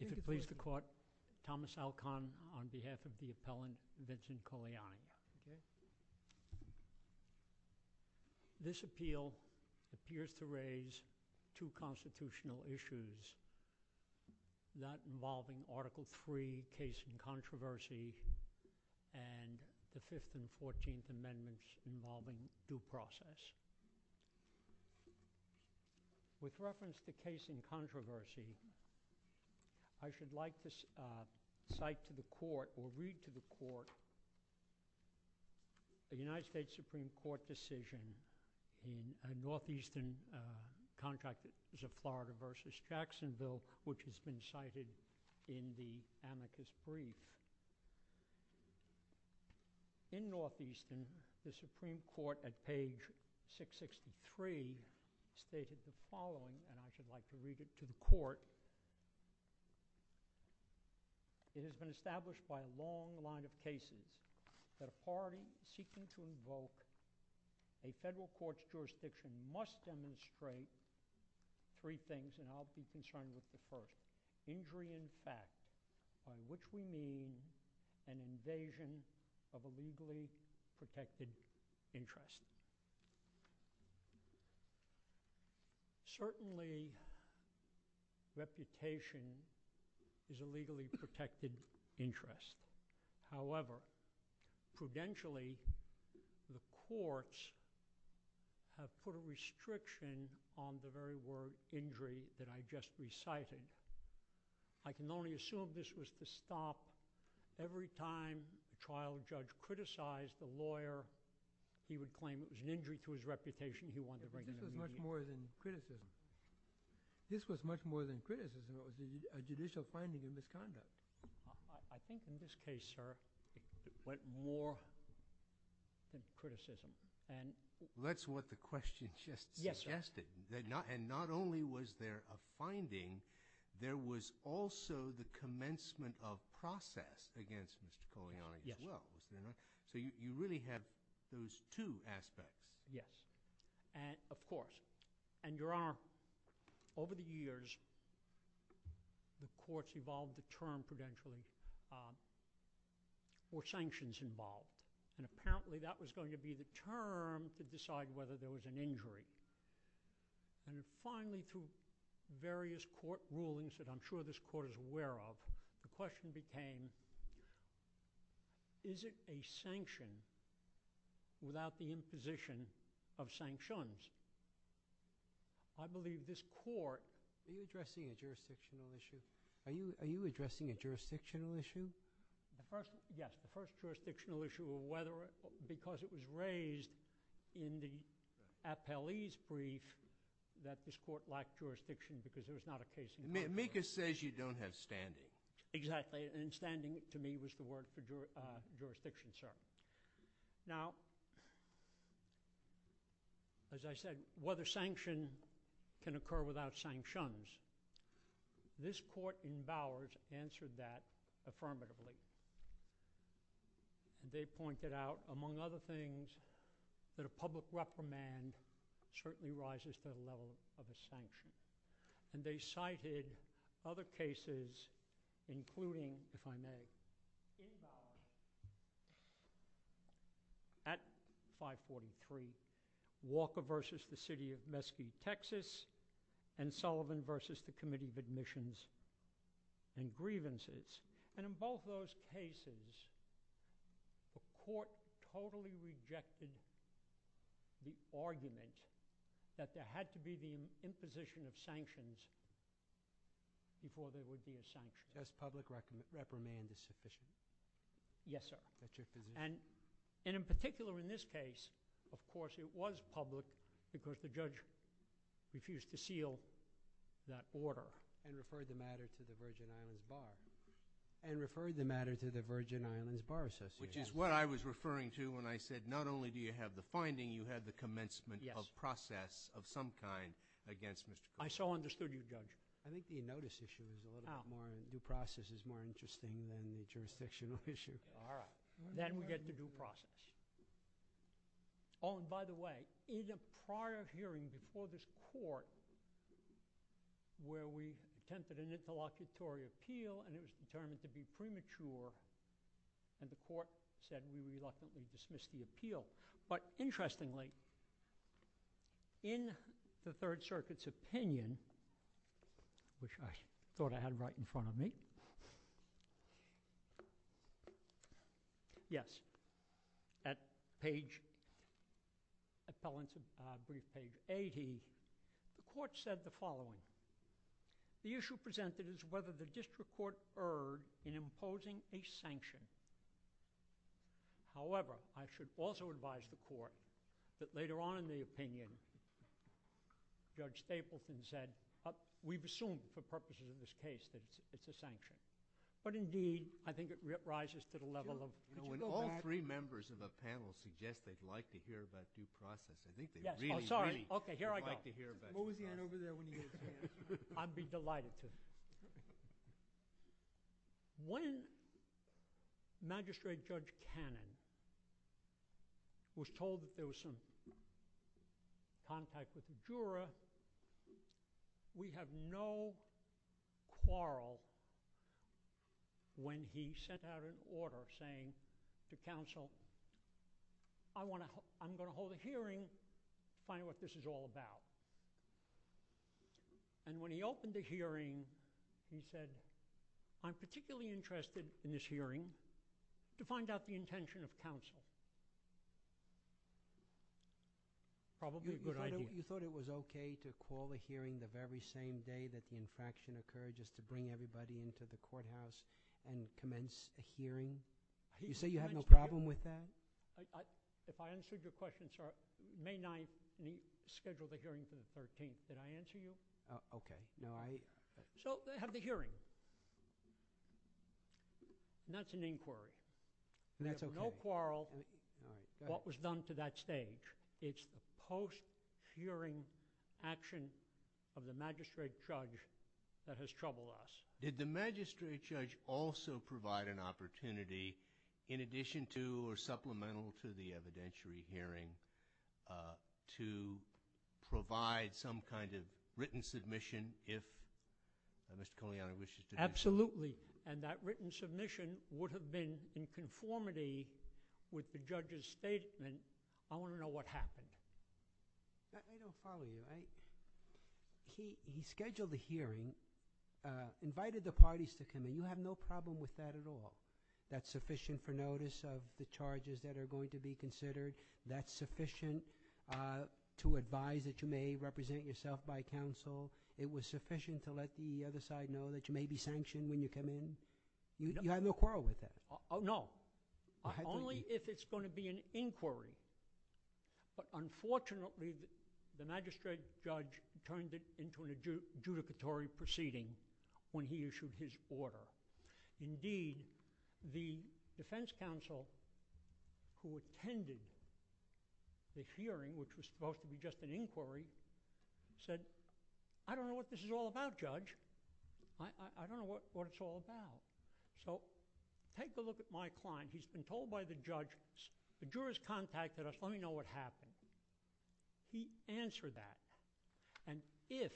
If it pleases the court, Thomas Alcon on behalf of the appellant, Vincent Cogliani. This appeal appears to raise two constitutional issues, that involving Article 3, Case in Controversy, and the Fifth and Fourteenth Amendments involving due process. With reference to Case in Controversy, I should like to cite to the court, or read to the court, a United States Supreme Court decision in Northeastern Contractors of Florida v. Jacksonville, which has been cited in the amicus brief. In Northeastern, the Supreme Court, at page 663, stated the following, and I should like to read it to the court. It has been established by a long line of cases that a party seeking to invoke a federal court's jurisdiction must demonstrate three things, and I'll be concerned with the first. Injury in fact, on which we mean an invasion of a legally protected interest. Certainly, reputation is a legally protected interest. However, prudentially, the courts have put a restriction on the very word injury that I just recited. I can only assume this was to stop every time a trial judge criticized a lawyer, he would claim it was an injury to his reputation he wanted to bring to the media. This was much more than criticism. This was much more than criticism. It was a judicial finding of misconduct. I think in this case, sir, it went more than criticism. That's what the question just suggested. Yes, sir. And not only was there a finding, there was also the commencement of process against Mr. Polianyi as well. Yes. So you really have those two aspects. Yes. And of course, and Your Honor, over the years, the courts evolved the term, prudentially, for sanctions involved. And apparently, that was going to be the term to decide whether there was an injury. And finally, through various court rulings that I'm sure this court is aware of, the question became, is it a sanction without the imposition of sanctions? I believe this court— Are you addressing a jurisdictional issue? Are you addressing a jurisdictional issue? Yes. The first jurisdictional issue, because it was raised in the appellee's brief that this court lacked jurisdiction because there was not a case in the country— Mika says you don't have standing. Exactly. And standing, to me, was the word for jurisdiction, sir. Now, as I said, whether sanction can occur without sanctions, this court in Bowers answered that affirmatively. They pointed out, among other things, that a public reprimand certainly rises to the level of a sanction. And they cited other cases, including, if I may, in Bowers, at 543, Walker v. The City of Mesquite, Texas, and Sullivan v. The Committee of Admissions and Grievances. And in both those cases, the court totally rejected the argument that there had to be the imposition of sanctions before there would be a sanction. Thus, public reprimand is sufficient. Yes, sir. And in particular, in this case, of course, it was public because the judge refused to seal that order and referred the matter to the Virgin Islands Bar. And referred the matter to the Virgin Islands Bar Association. Which is what I was referring to when I said, not only do you have the finding, you have the commencement of process of some kind against Mr. Kruger. I so understood you, Judge. I think the notice issue is a little bit more— the process is more interesting than the jurisdictional issue. All right. Then we get the due process. Oh, and by the way, in a prior hearing before this court where we attempted an interlocutory appeal and it was determined to be premature, and the court said we reluctantly dismissed the appeal. But interestingly, in the Third Circuit's opinion, which I thought I had right in front of me. Yes. At page—appellant's brief page 80, the court said the following. The issue presented is whether the district court erred in imposing a sanction. However, I should also advise the court that later on in the opinion, Judge Stapleton said, we've assumed for purposes of this case that it's a sanction. But indeed, I think it rises to the level of— When all three members of the panel suggest they'd like to hear about due process, I think they really, really— Oh, sorry. Okay, here I go. What was the end over there when you gave the answer? I'd be delighted to. When Magistrate Judge Cannon was told that there was some contact with the juror, we have no quarrel when he sent out an order saying to counsel, I'm going to hold a hearing to find out what this is all about. And when he opened the hearing, he said, I'm particularly interested in this hearing to find out the intention of counsel. Probably a good idea. You thought it was okay to call a hearing the very same day that the infraction occurred just to bring everybody into the courthouse and commence a hearing? You say you have no problem with that? If I answered your question May 9th and he scheduled the hearing for the 13th, did I answer you? Okay, no, I— So they have the hearing. And that's an inquiry. That's okay. We have no quarrel what was done to that stage. It's the post-hearing action of the Magistrate Judge that has troubled us. Did the Magistrate Judge also provide an opportunity, in addition to or supplemental to the evidentiary hearing, to provide some kind of written submission if Mr. Kolianyi wishes to do so? Absolutely. And that written submission would have been in conformity with the judge's statement. I want to know what happened. I don't follow you. He scheduled the hearing, invited the parties to come in. You have no problem with that at all? That's sufficient for notice of the charges that are going to be considered? That's sufficient to advise that you may represent yourself by counsel? It was sufficient to let the other side know that you may be sanctioned when you come in? You have no quarrel with that? No, only if it's going to be an inquiry. Unfortunately, the Magistrate Judge turned it into an adjudicatory proceeding when he issued his order. Indeed, the defense counsel who attended the hearing, which was supposed to be just an inquiry, said, I don't know what this is all about, Judge. I don't know what it's all about. So take a look at my client. He's been told by the judge, the jurors contacted us. Let me know what happened. He answered that. And if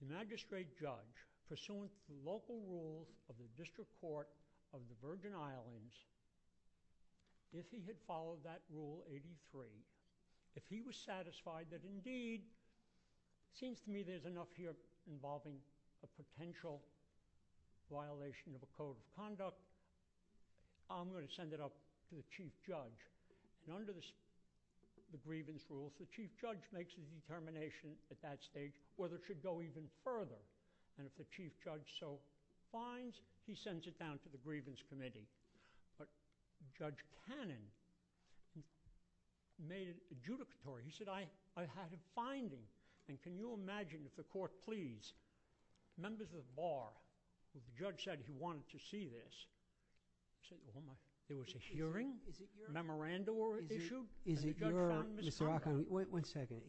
the Magistrate Judge, pursuant to local rules of the District Court of the Virgin Islands, if he had followed that Rule 83, if he was satisfied that indeed, it seems to me there's enough here involving a potential violation of a code of conduct, I'm going to send it up to the Chief Judge. And under the grievance rules, the Chief Judge makes a determination at that stage whether it should go even further. And if the Chief Judge so finds, he sends it down to the Grievance Committee. But Judge Cannon made it adjudicatory. He said, I had a finding. And can you imagine if the court please, members of the Bar, if the judge said he wanted to see this, there was a hearing, a memorandum issue, and the judge found Mr. O'Connor. One second.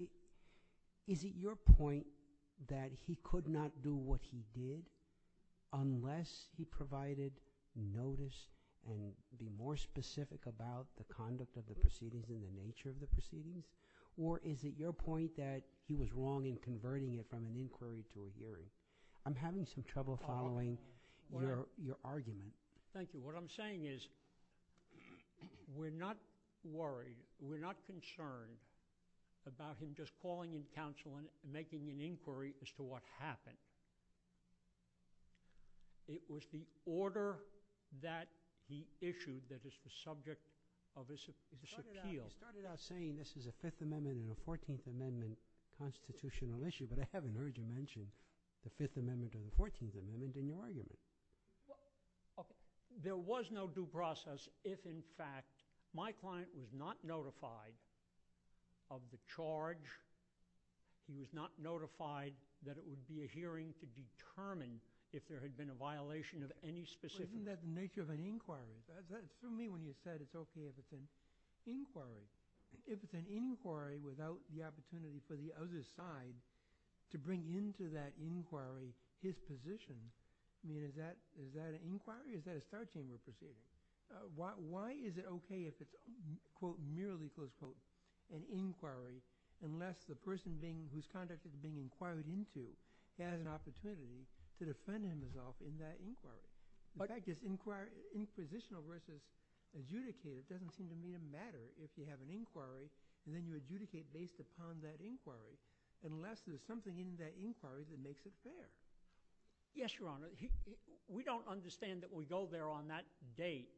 Is it your point that he could not do what he did unless he provided notice and be more specific about the conduct of the proceedings and the nature of the proceedings? Or is it your point that he was wrong in converting it from an inquiry to a hearing? I'm having some trouble following your argument. Thank you. What I'm saying is we're not worried, we're not concerned about him just calling in counsel and making an inquiry as to what happened. It was the order that he issued that is the subject of this appeal. You started out saying this is a Fifth Amendment and a Fourteenth Amendment constitutional issue, but I haven't heard you mention the Fifth Amendment or the Fourteenth Amendment in your argument. There was no due process if, in fact, my client was not notified of the charge, he was not notified that it would be a hearing to determine if there had been a violation of any specific... But isn't that the nature of an inquiry? For me, when you said it's okay if it's an inquiry, if it's an inquiry without the opportunity for the other side to bring into that inquiry his position, I mean, is that an inquiry? Is that a start chamber procedure? Why is it okay if it's merely an inquiry unless the person whose conduct is being inquired into has an opportunity to defend himself in that inquiry? In fact, inquisitional versus adjudicated doesn't seem to mean a matter if you have an inquiry and then you adjudicate based upon that inquiry unless there's something in that inquiry that makes it fair. Yes, Your Honor. We don't understand that we go there on that date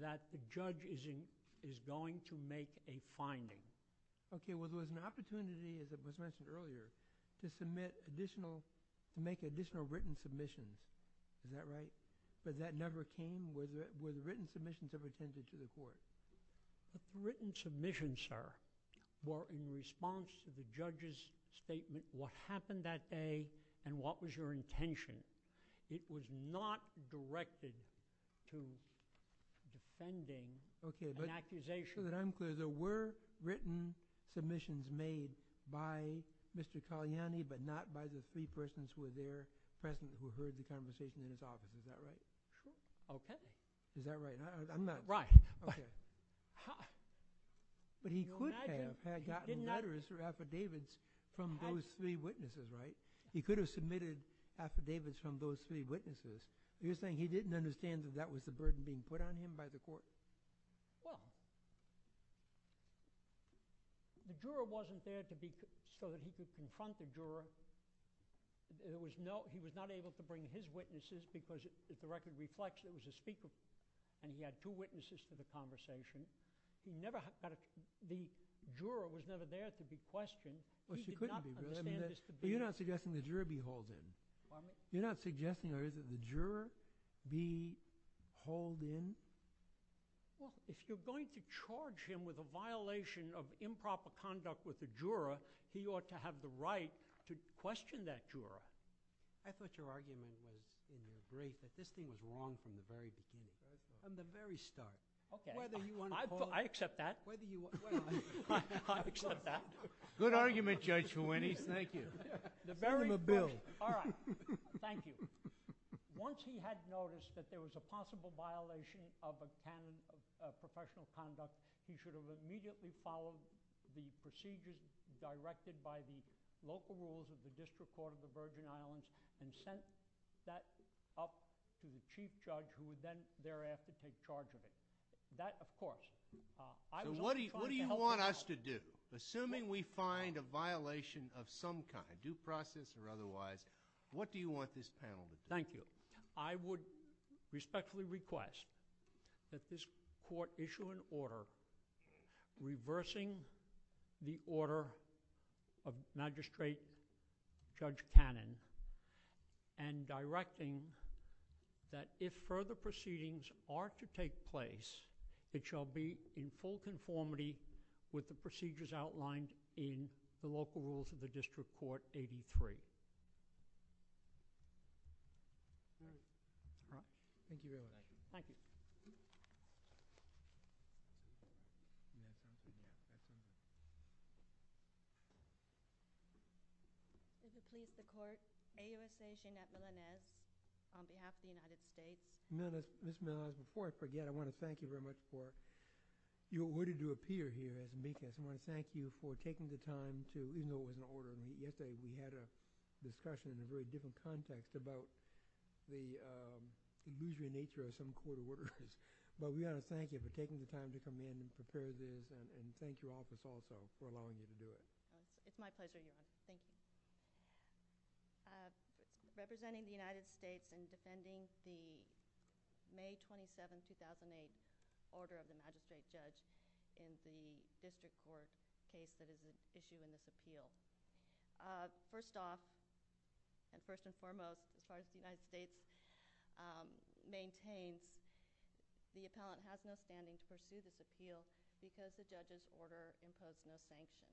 that the judge is going to make a finding. Okay. Well, there was an opportunity, as was mentioned earlier, to submit additional... to make additional written submissions. Is that right? But that never came? Were the written submissions ever attended to the court? The written submissions, sir, were in response to the judge's statement, what happened that day and what was your intention. It was not directed to defending an accusation. So that I'm clear, there were written submissions made by Mr. Kalyani but not by the three persons who were there present who heard the conversation in his office. Is that right? Sure. Okay. Is that right? I'm not... Right. Okay. But he could have gotten letters or affidavits from those three witnesses, right? He could have submitted affidavits from those three witnesses. You're saying he didn't understand that that was the burden being put on him by the court? Well, the juror wasn't there so that he could confront the juror. He was not able to bring his witnesses because, if the record reflects, it was a speaker and he had two witnesses for the conversation. The juror was never there to be questioned. He did not understand this to be... You're not suggesting the juror be hauled in? Pardon me? You're not suggesting or is it the juror be hauled in? Well, if you're going to charge him with a violation of improper conduct with the juror, he ought to have the right to question that juror. I thought your argument was in the brief that this thing was wrong from the very beginning, right? From the very start. Okay. Whether you want to call... I accept that. Whether you want... I accept that. Good argument, Judge Fuentes. Thank you. The very... Send him a bill. All right. Thank you. Once he had noticed that there was a possible violation of a canon of professional conduct, he should have immediately followed the procedures directed by the local rules of the District Court of the Virgin Islands and sent that up to the chief judge who would then thereafter take charge of it. That, of course... What do you want us to do? Assuming we find a violation of some kind, due process or otherwise, what do you want this panel to do? Thank you. I would respectfully request that this court issue an order reversing the order of Magistrate Judge Cannon and directing that if further proceedings are to take place, it shall be in full conformity with the procedures outlined in the local rules of the District Court 83. All right. Thank you very much. Thank you. Thank you. Thank you. Thank you. Thank you. Thank you. Thank you. Would you please support AUSA Jeannette Melenez on behalf of the United States? Miss Melenez, before I forget, I want to thank you very much for your willingness to appear here as a witness. I want to thank you for taking the time to... even though it is an order. Yesterday we had a discussion in a very different context about the illusory nature of some court orders, but we've got to thank you for taking the time to come in and prepare this and thank you also for allowing me to do it. It's my pleasure. Thank you. Representing the United States and defending the May 27, 2008 order of the magistrate judge in the district court case that is issued in this appeal. First off, and first and foremost, as far as the United States maintains, the appellant has no standing to pursue this appeal because the judge's order imposed no sanctions.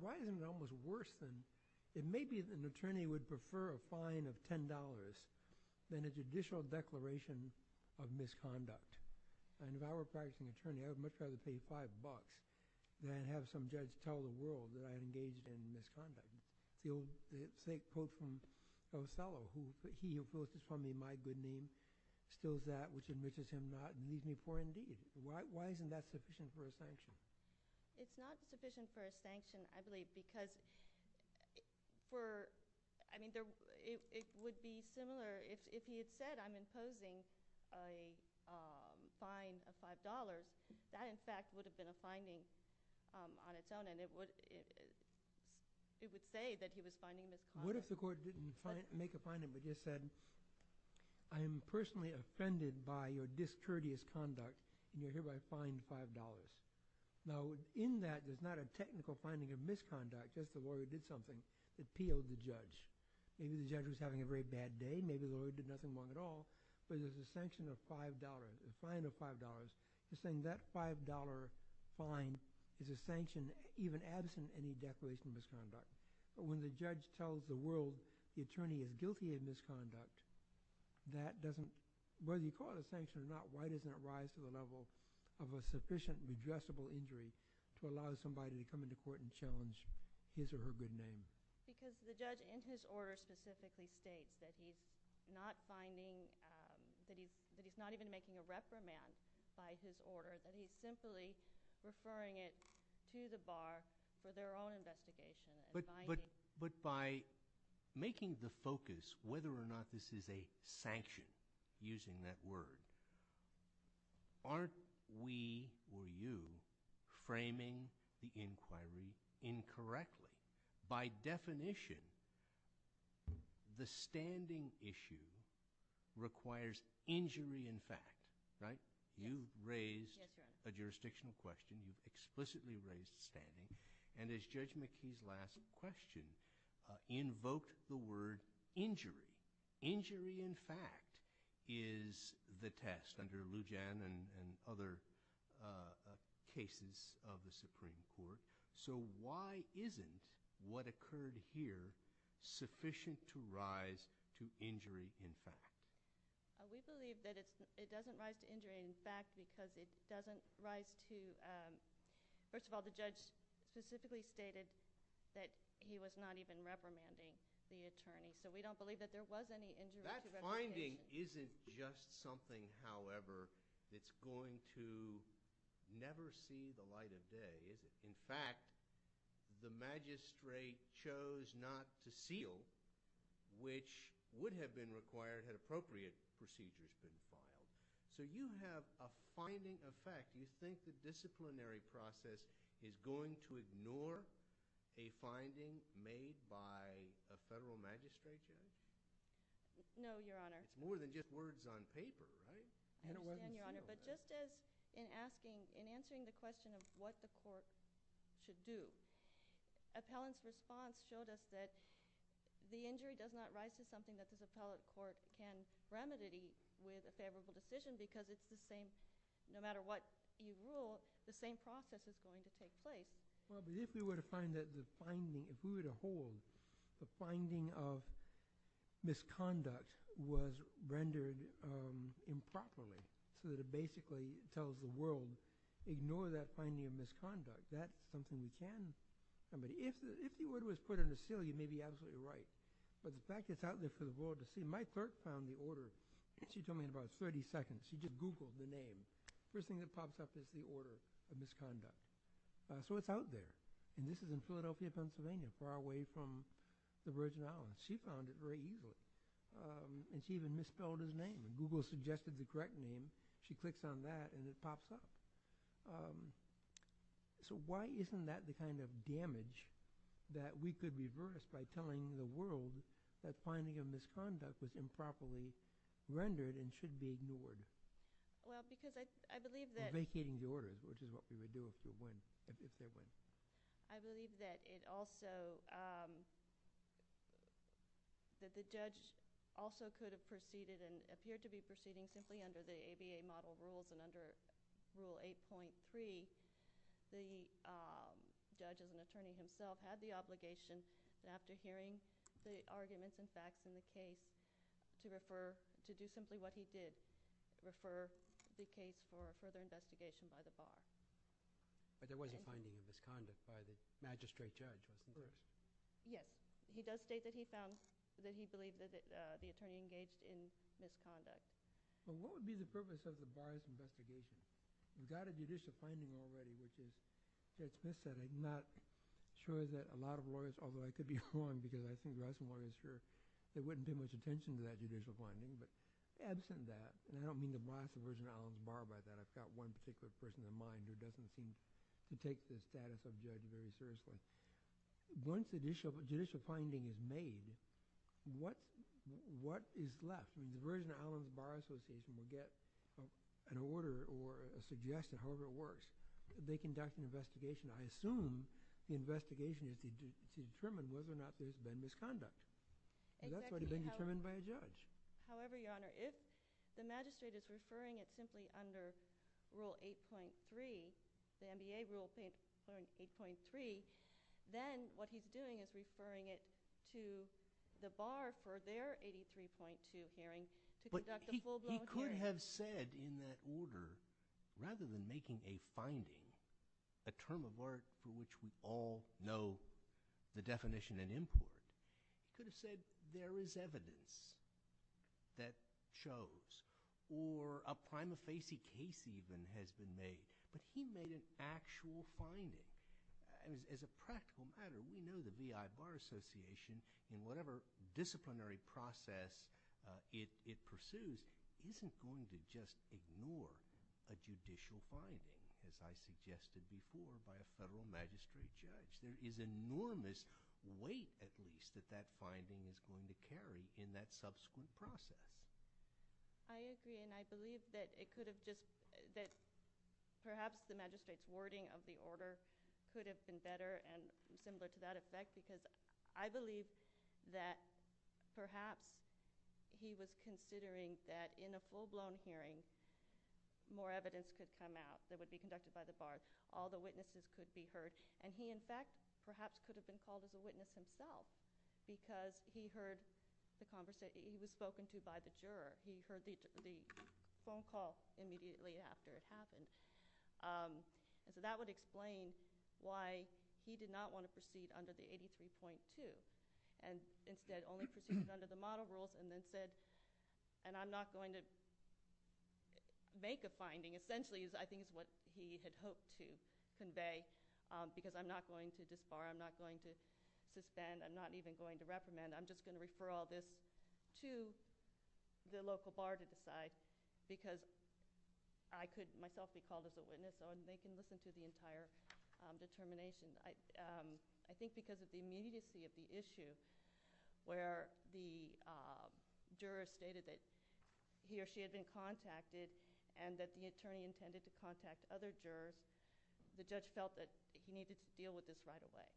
Why isn't it almost worse than... it may be that an attorney would prefer a fine of $10 than a judicial declaration of misconduct. If I were a practicing attorney, I would much rather pay five bucks than have some judge tell the world that I am engaged in misconduct. The same quote from O'Sullivan, who wrote this for me in my good name, still is that which enriches him not and needs me for indeed. Why isn't that sufficient for a sanction? It's not sufficient for a sanction, I believe, because for... I mean, it would be similar if he had said I'm imposing a fine of $5, that in fact would have been a finding on its own and it would say that he was finding misconduct. What if the court didn't make a finding but just said I am personally offended by your Now, in that, there's not a technical finding of misconduct, just the lawyer did something. It appealed the judge. Maybe the judge was having a very bad day. Maybe the lawyer did nothing wrong at all. But there's a sanction of $5, a fine of $5. He's saying that $5 fine is a sanction even absent any declaration of misconduct. But when the judge tells the world the attorney is guilty of misconduct, that doesn't... Whether you call it a sanction or not, why doesn't it rise to the level of a sufficient redressable injury to allow somebody to come into court and challenge his or her good name? Because the judge in his order specifically states that he's not finding... that he's not even making a reprimand by his order. That he's simply referring it to the bar for their own investigation. But by making the focus whether or not this is a sanction, using that word, aren't we, or you, framing the inquiry incorrectly? By definition, the standing issue requires injury in fact, right? You've raised a jurisdictional question. You've explicitly raised standing. And as Judge McKee's last question invoked the word injury, injury in fact is the test under Lujan and other cases of the Supreme Court. So why isn't what occurred here sufficient to rise to injury in fact? We believe that it doesn't rise to injury in fact because it doesn't rise to... First of all, the judge specifically stated that he was not even reprimanding the attorney. So we don't believe that there was any injury... That finding isn't just something, however, that's going to never see the light of day, is it? In fact, the magistrate chose not to seal, which would have been required had appropriate procedures been followed. So you have a finding effect. No, Your Honor. It's more than just words on paper, right? And it wasn't sealed. And, Your Honor, but just as in asking, in answering the question of what the court should do, appellant's response showed us that the injury does not rise to something that this appellate court can remedy with a favorable decision because it's the same, no matter what you rule, the same process is going to take place. Well, but if we were to find that the finding... if we were to hold the finding of misconduct was rendered improperly so that it basically tells the world, ignore that finding of misconduct. That's something you can... If the word was put under seal, you may be absolutely right. But the fact is out there for the world to see. My clerk found the order. She told me in about 30 seconds. She just Googled the name. First thing that pops up is the order of misconduct. So it's out there. And this is in Philadelphia, Pennsylvania, far away from the Virgin Islands. She found it very easily. And she even misspelled his name. Google suggested the correct name. She clicks on that and it pops up. So why isn't that the kind of damage that we could reverse by telling the world that finding of misconduct was improperly rendered and should be ignored? Well, because I believe that... I believe that it also... that the judge also could have proceeded and appeared to be proceeding simply under the ABA model rules. And under Rule 8.3, the judge as an attorney himself had the obligation, after hearing the arguments and facts in the case, to refer... to do simply what he did, refer the case for further investigation by the bar. But there was a finding of misconduct by the magistrate judge, wasn't there? Yes. He does state that he found... that he believed that the attorney engaged in misconduct. But what would be the purpose of the bar's investigation? You've got a judicial finding already, which is... But absent that... and I don't mean to bias the Virgin Islands Bar by that. I've got one particular person in mind who doesn't seem to take the status of judge very seriously. Once the judicial finding is made, what is left? The Virgin Islands Bar Association may get an order or a suggestion, however it works. They conduct an investigation. I assume the investigation is to determine whether or not there's been misconduct. That's already been determined by a judge. However, Your Honor, if the magistrate is referring it simply under Rule 8.3, the NBA Rule 8.3, then what he's doing is referring it to the bar for their 83.2 hearing to conduct a full-blown hearing. But he could have said in that order, rather than making a finding, a term of art for which we all know the definition and import. He could have said there is evidence that shows or a prima facie case even has been made. But he made an actual finding. As a practical matter, we know the VI Bar Association, in whatever disciplinary process it pursues, isn't going to just ignore a judicial finding, as I suggested before, by a federal magistrate judge. There is enormous weight, at least, that that finding is going to carry in that subsequent process. I agree, and I believe that it could have just – that perhaps the magistrate's wording of the order could have been better and similar to that effect because I believe that perhaps he was considering that in a full-blown hearing, more evidence could come out that would be conducted by the bars. All the witnesses could be heard. And he, in fact, perhaps could have been called as a witness himself because he heard the conversation. He was spoken to by the juror. He heard the phone call immediately after it happened. So that would explain why he did not want to proceed under the 83.2 and instead only proceeded under the model rules and then said, and I'm not going to make a finding, essentially, I think is what he had hoped to convey, because I'm not going to disbar. I'm not going to suspend. I'm not even going to reprimand. I'm just going to refer all this to the local bar to decide because I could myself be called as a witness so they can listen to the entire determination. I think because of the immediacy of the issue where the juror stated that he or she had been contacted and that the attorney intended to contact other jurors, the judge felt that he needed to deal with this right away.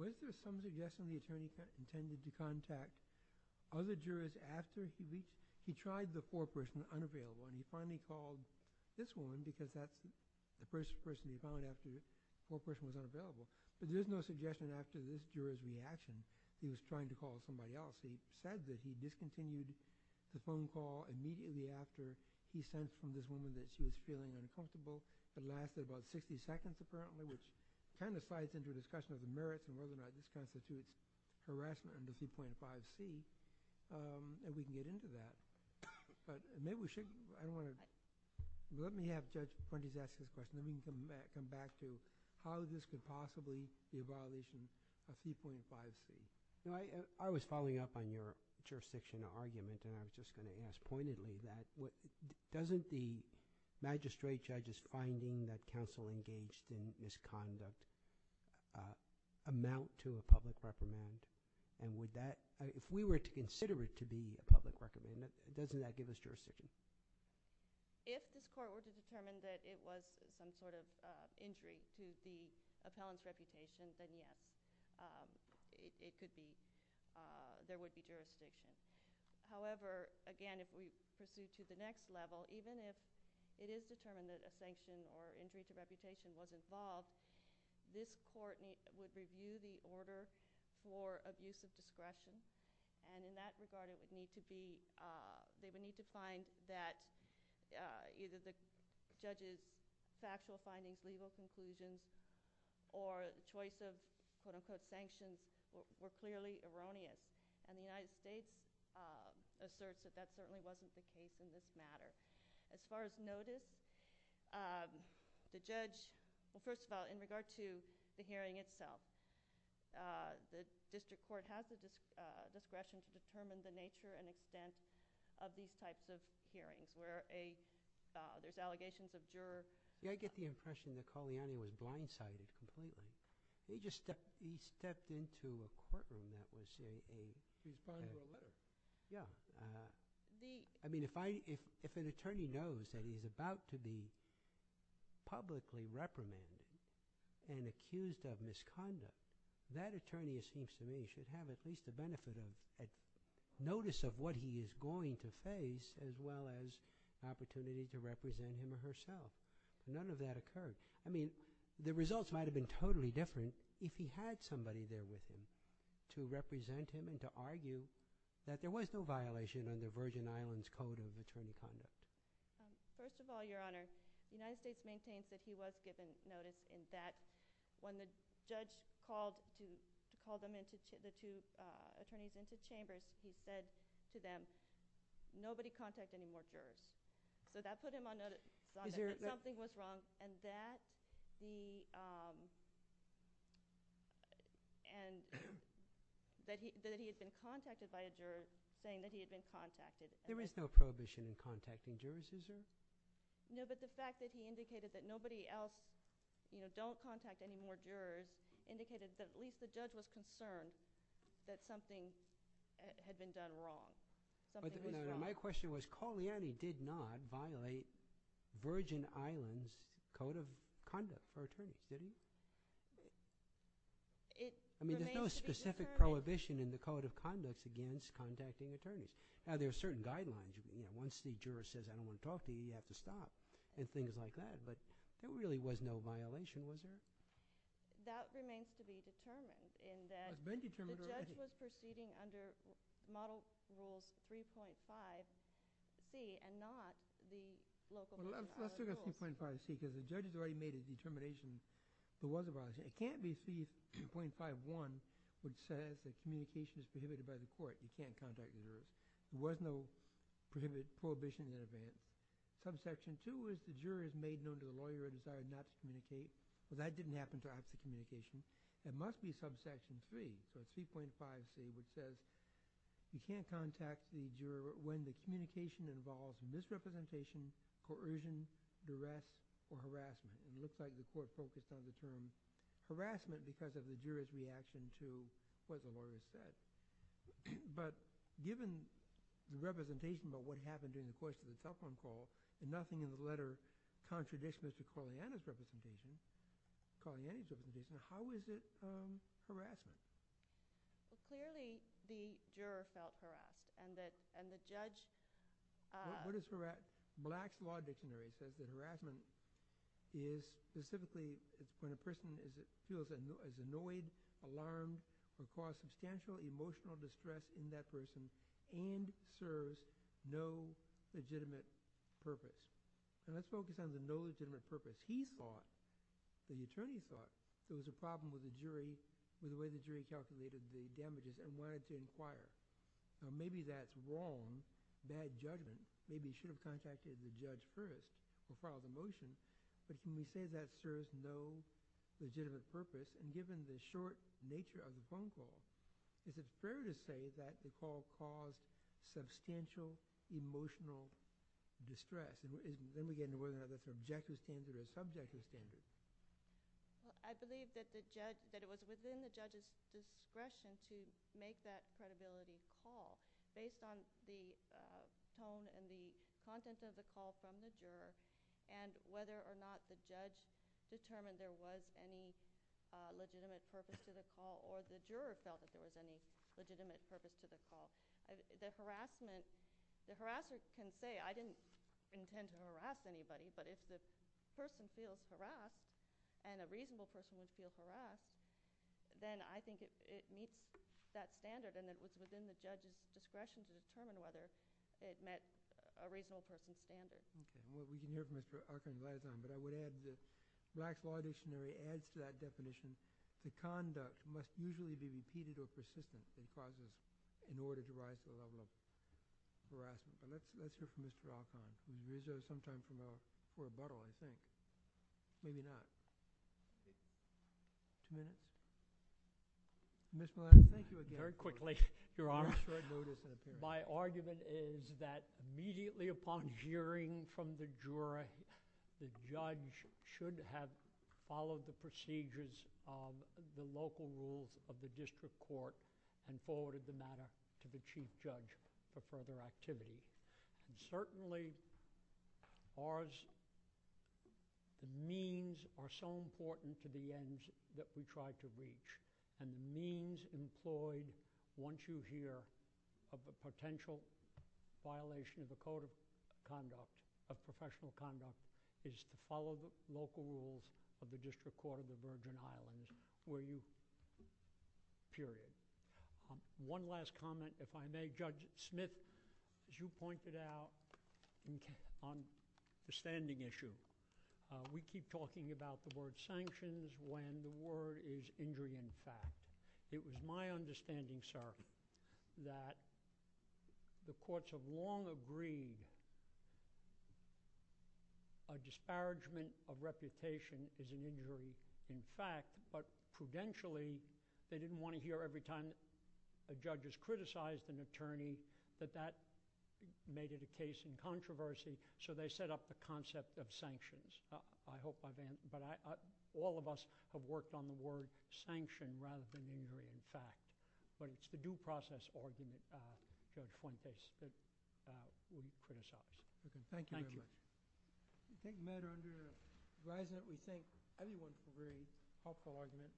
Was there some suggestion the attorney intended to contact other jurors after he reached – he tried the foreperson unavailable and he finally called this woman because that's the first person he found after the foreperson was unavailable. But there's no suggestion after this juror's reaction he was trying to call somebody else. He said that he discontinued the phone call immediately after he sensed from this woman that she was feeling uncomfortable. It lasted about 60 seconds, apparently, which kind of slides into a discussion of the merits and whether or not this constitutes harassment under 2.5C, and we can get into that. But maybe we should – I don't want to – let me have Judge Fuentes ask this question. Let me come back to how this could possibly be a violation of 2.5C. I was following up on your jurisdiction argument, and I was just going to ask pointedly that doesn't the magistrate judge's finding that counsel engaged in misconduct amount to a public recommend? And would that – if we were to consider it to be a public recommend, doesn't that give us jurisdiction? If this court were to determine that it was some sort of injury to the appellant's reputation, then yes, it could be – there would be jurisdiction. However, again, if we pursue to the next level, even if it is determined that a sanction or injury to reputation was involved, this court would review the order for abuse of discretion. And in that regard, it would need to be – they would need to find that either the judge's factual findings, legal conclusions, or choice of, quote-unquote, sanctions were clearly erroneous. And the United States asserts that that certainly wasn't the case in this matter. As far as notice, the judge – well, first of all, in regard to the hearing itself, the district court has the discretion to determine the nature and extent of these types of hearings where there's allegations of juror – Yeah, I get the impression that Colliani was blindsided completely. He just stepped into a courtroom that was a – He filed a letter. Yeah. I mean, if an attorney knows that he's about to be publicly reprimanded and accused of misconduct, that attorney assumes to me should have at least the benefit of notice of what he is going to face as well as opportunity to represent him or herself. None of that occurred. I mean, the results might have been totally different if he had somebody there with him to represent him and to argue that there was no violation under Virgin Islands Code of Attorney Conduct. First of all, Your Honor, the United States maintains that he was given notice and that when the judge called the two attorneys into the chambers, he said to them, nobody contact any more jurors. So that put him on notice that something was wrong and that he had been contacted by a juror saying that he had been contacted. There is no prohibition in contacting jurors, is there? No, but the fact that he indicated that nobody else don't contact any more jurors indicated that at least the judge was concerned that something had been done wrong. My question was, Coliani did not violate Virgin Islands Code of Conduct for attorneys, didn't he? There is no specific prohibition in the Code of Conduct against contacting attorneys. Now, there are certain guidelines. Once the juror says, I don't want to talk to you, you have to stop and things like that. But there really was no violation, was there? That remains to be determined in that the judge was proceeding under Model Rules 3.5C and not the local model rules. Well, let's look at 3.5C because the judge has already made a determination there was a violation. It can't be 3.5.1 which says that communication is prohibited by the court. You can't contact jurors. There was no prohibited prohibition in that. Subsection 2 is the jurors made known to the lawyer and decided not to communicate, but that didn't happen throughout the communication. It must be subsection 3, so 3.5C, which says you can't contact the juror when the communication involves misrepresentation, coercion, duress, or harassment. It looks like the court focused on the term harassment because of the juror's reaction to what the lawyer said. But given the representation about what happened during the course of the cell phone call and nothing in the letter contradicts Mr. Coriani's representation, how is it harassment? Clearly, the juror felt harassed and the judge— What is harassment? Black's Law Dictionary says that harassment is specifically when a person feels annoyed, alarmed, or caused substantial emotional distress in that person and serves no legitimate purpose. Now, let's focus on the no legitimate purpose. He thought, the attorney thought, there was a problem with the jury, with the way the jury calculated the damages and wanted to inquire. Now, maybe that's wrong, bad judgment. Maybe you should have contacted the judge first or filed a motion, but can you say that serves no legitimate purpose? And given the short nature of the phone call, is it fair to say that the call caused substantial emotional distress? Then we get into whether that's objective standard or subjective standard. I believe that it was within the judge's discretion to make that credibility call based on the tone and the content of the call from the juror and whether or not the judge determined there was any legitimate purpose to the call or the juror felt that there was any legitimate purpose to the call. The harassment—the harasser can say, I didn't intend to harass anybody, but if the person feels harassed and a reasonable person would feel harassed, then I think it meets that standard and it was within the judge's discretion to determine whether it met a reasonable person's standard. Okay. Well, we can hear from Mr. Archon right on, but I would add this. Black Law Dictionary adds to that definition. The conduct must usually be repeated or persistent and positive in order to rise to the level of harassment. Let's hear from Mr. Archon. He deserves some time for a rebuttal, I think. Maybe not. Two minutes? Ms. Millett, thank you again. Very quickly, Your Honor. My argument is that immediately upon hearing from the juror, the judge should have followed the procedures of the local rules of the district court and forwarded the matter to the chief judge for further activity. Certainly, the means are so important to the ends that we try to reach and the means employed once you hear of the potential violation of the code of conduct, of professional conduct, is to follow the local rules of the district court of the Virgin Islands, period. One last comment, if I may. Judge Smith, as you pointed out on the standing issue, we keep talking about the word sanctions when the word is injury in fact. It was my understanding, sir, that the courts have long agreed a disparagement of reputation is an injury in fact, but prudentially they didn't want to hear every time a judge has criticized an attorney that that made it a case in controversy, so they set up the concept of sanctions. I hope I've answered. All of us have worked on the word sanction rather than injury in fact, but it's the due process argument, Judge Fuentes, that we criticize. Thank you very much. Thank you. I think, Matt, under the horizon that we think, everyone's a very helpful argument.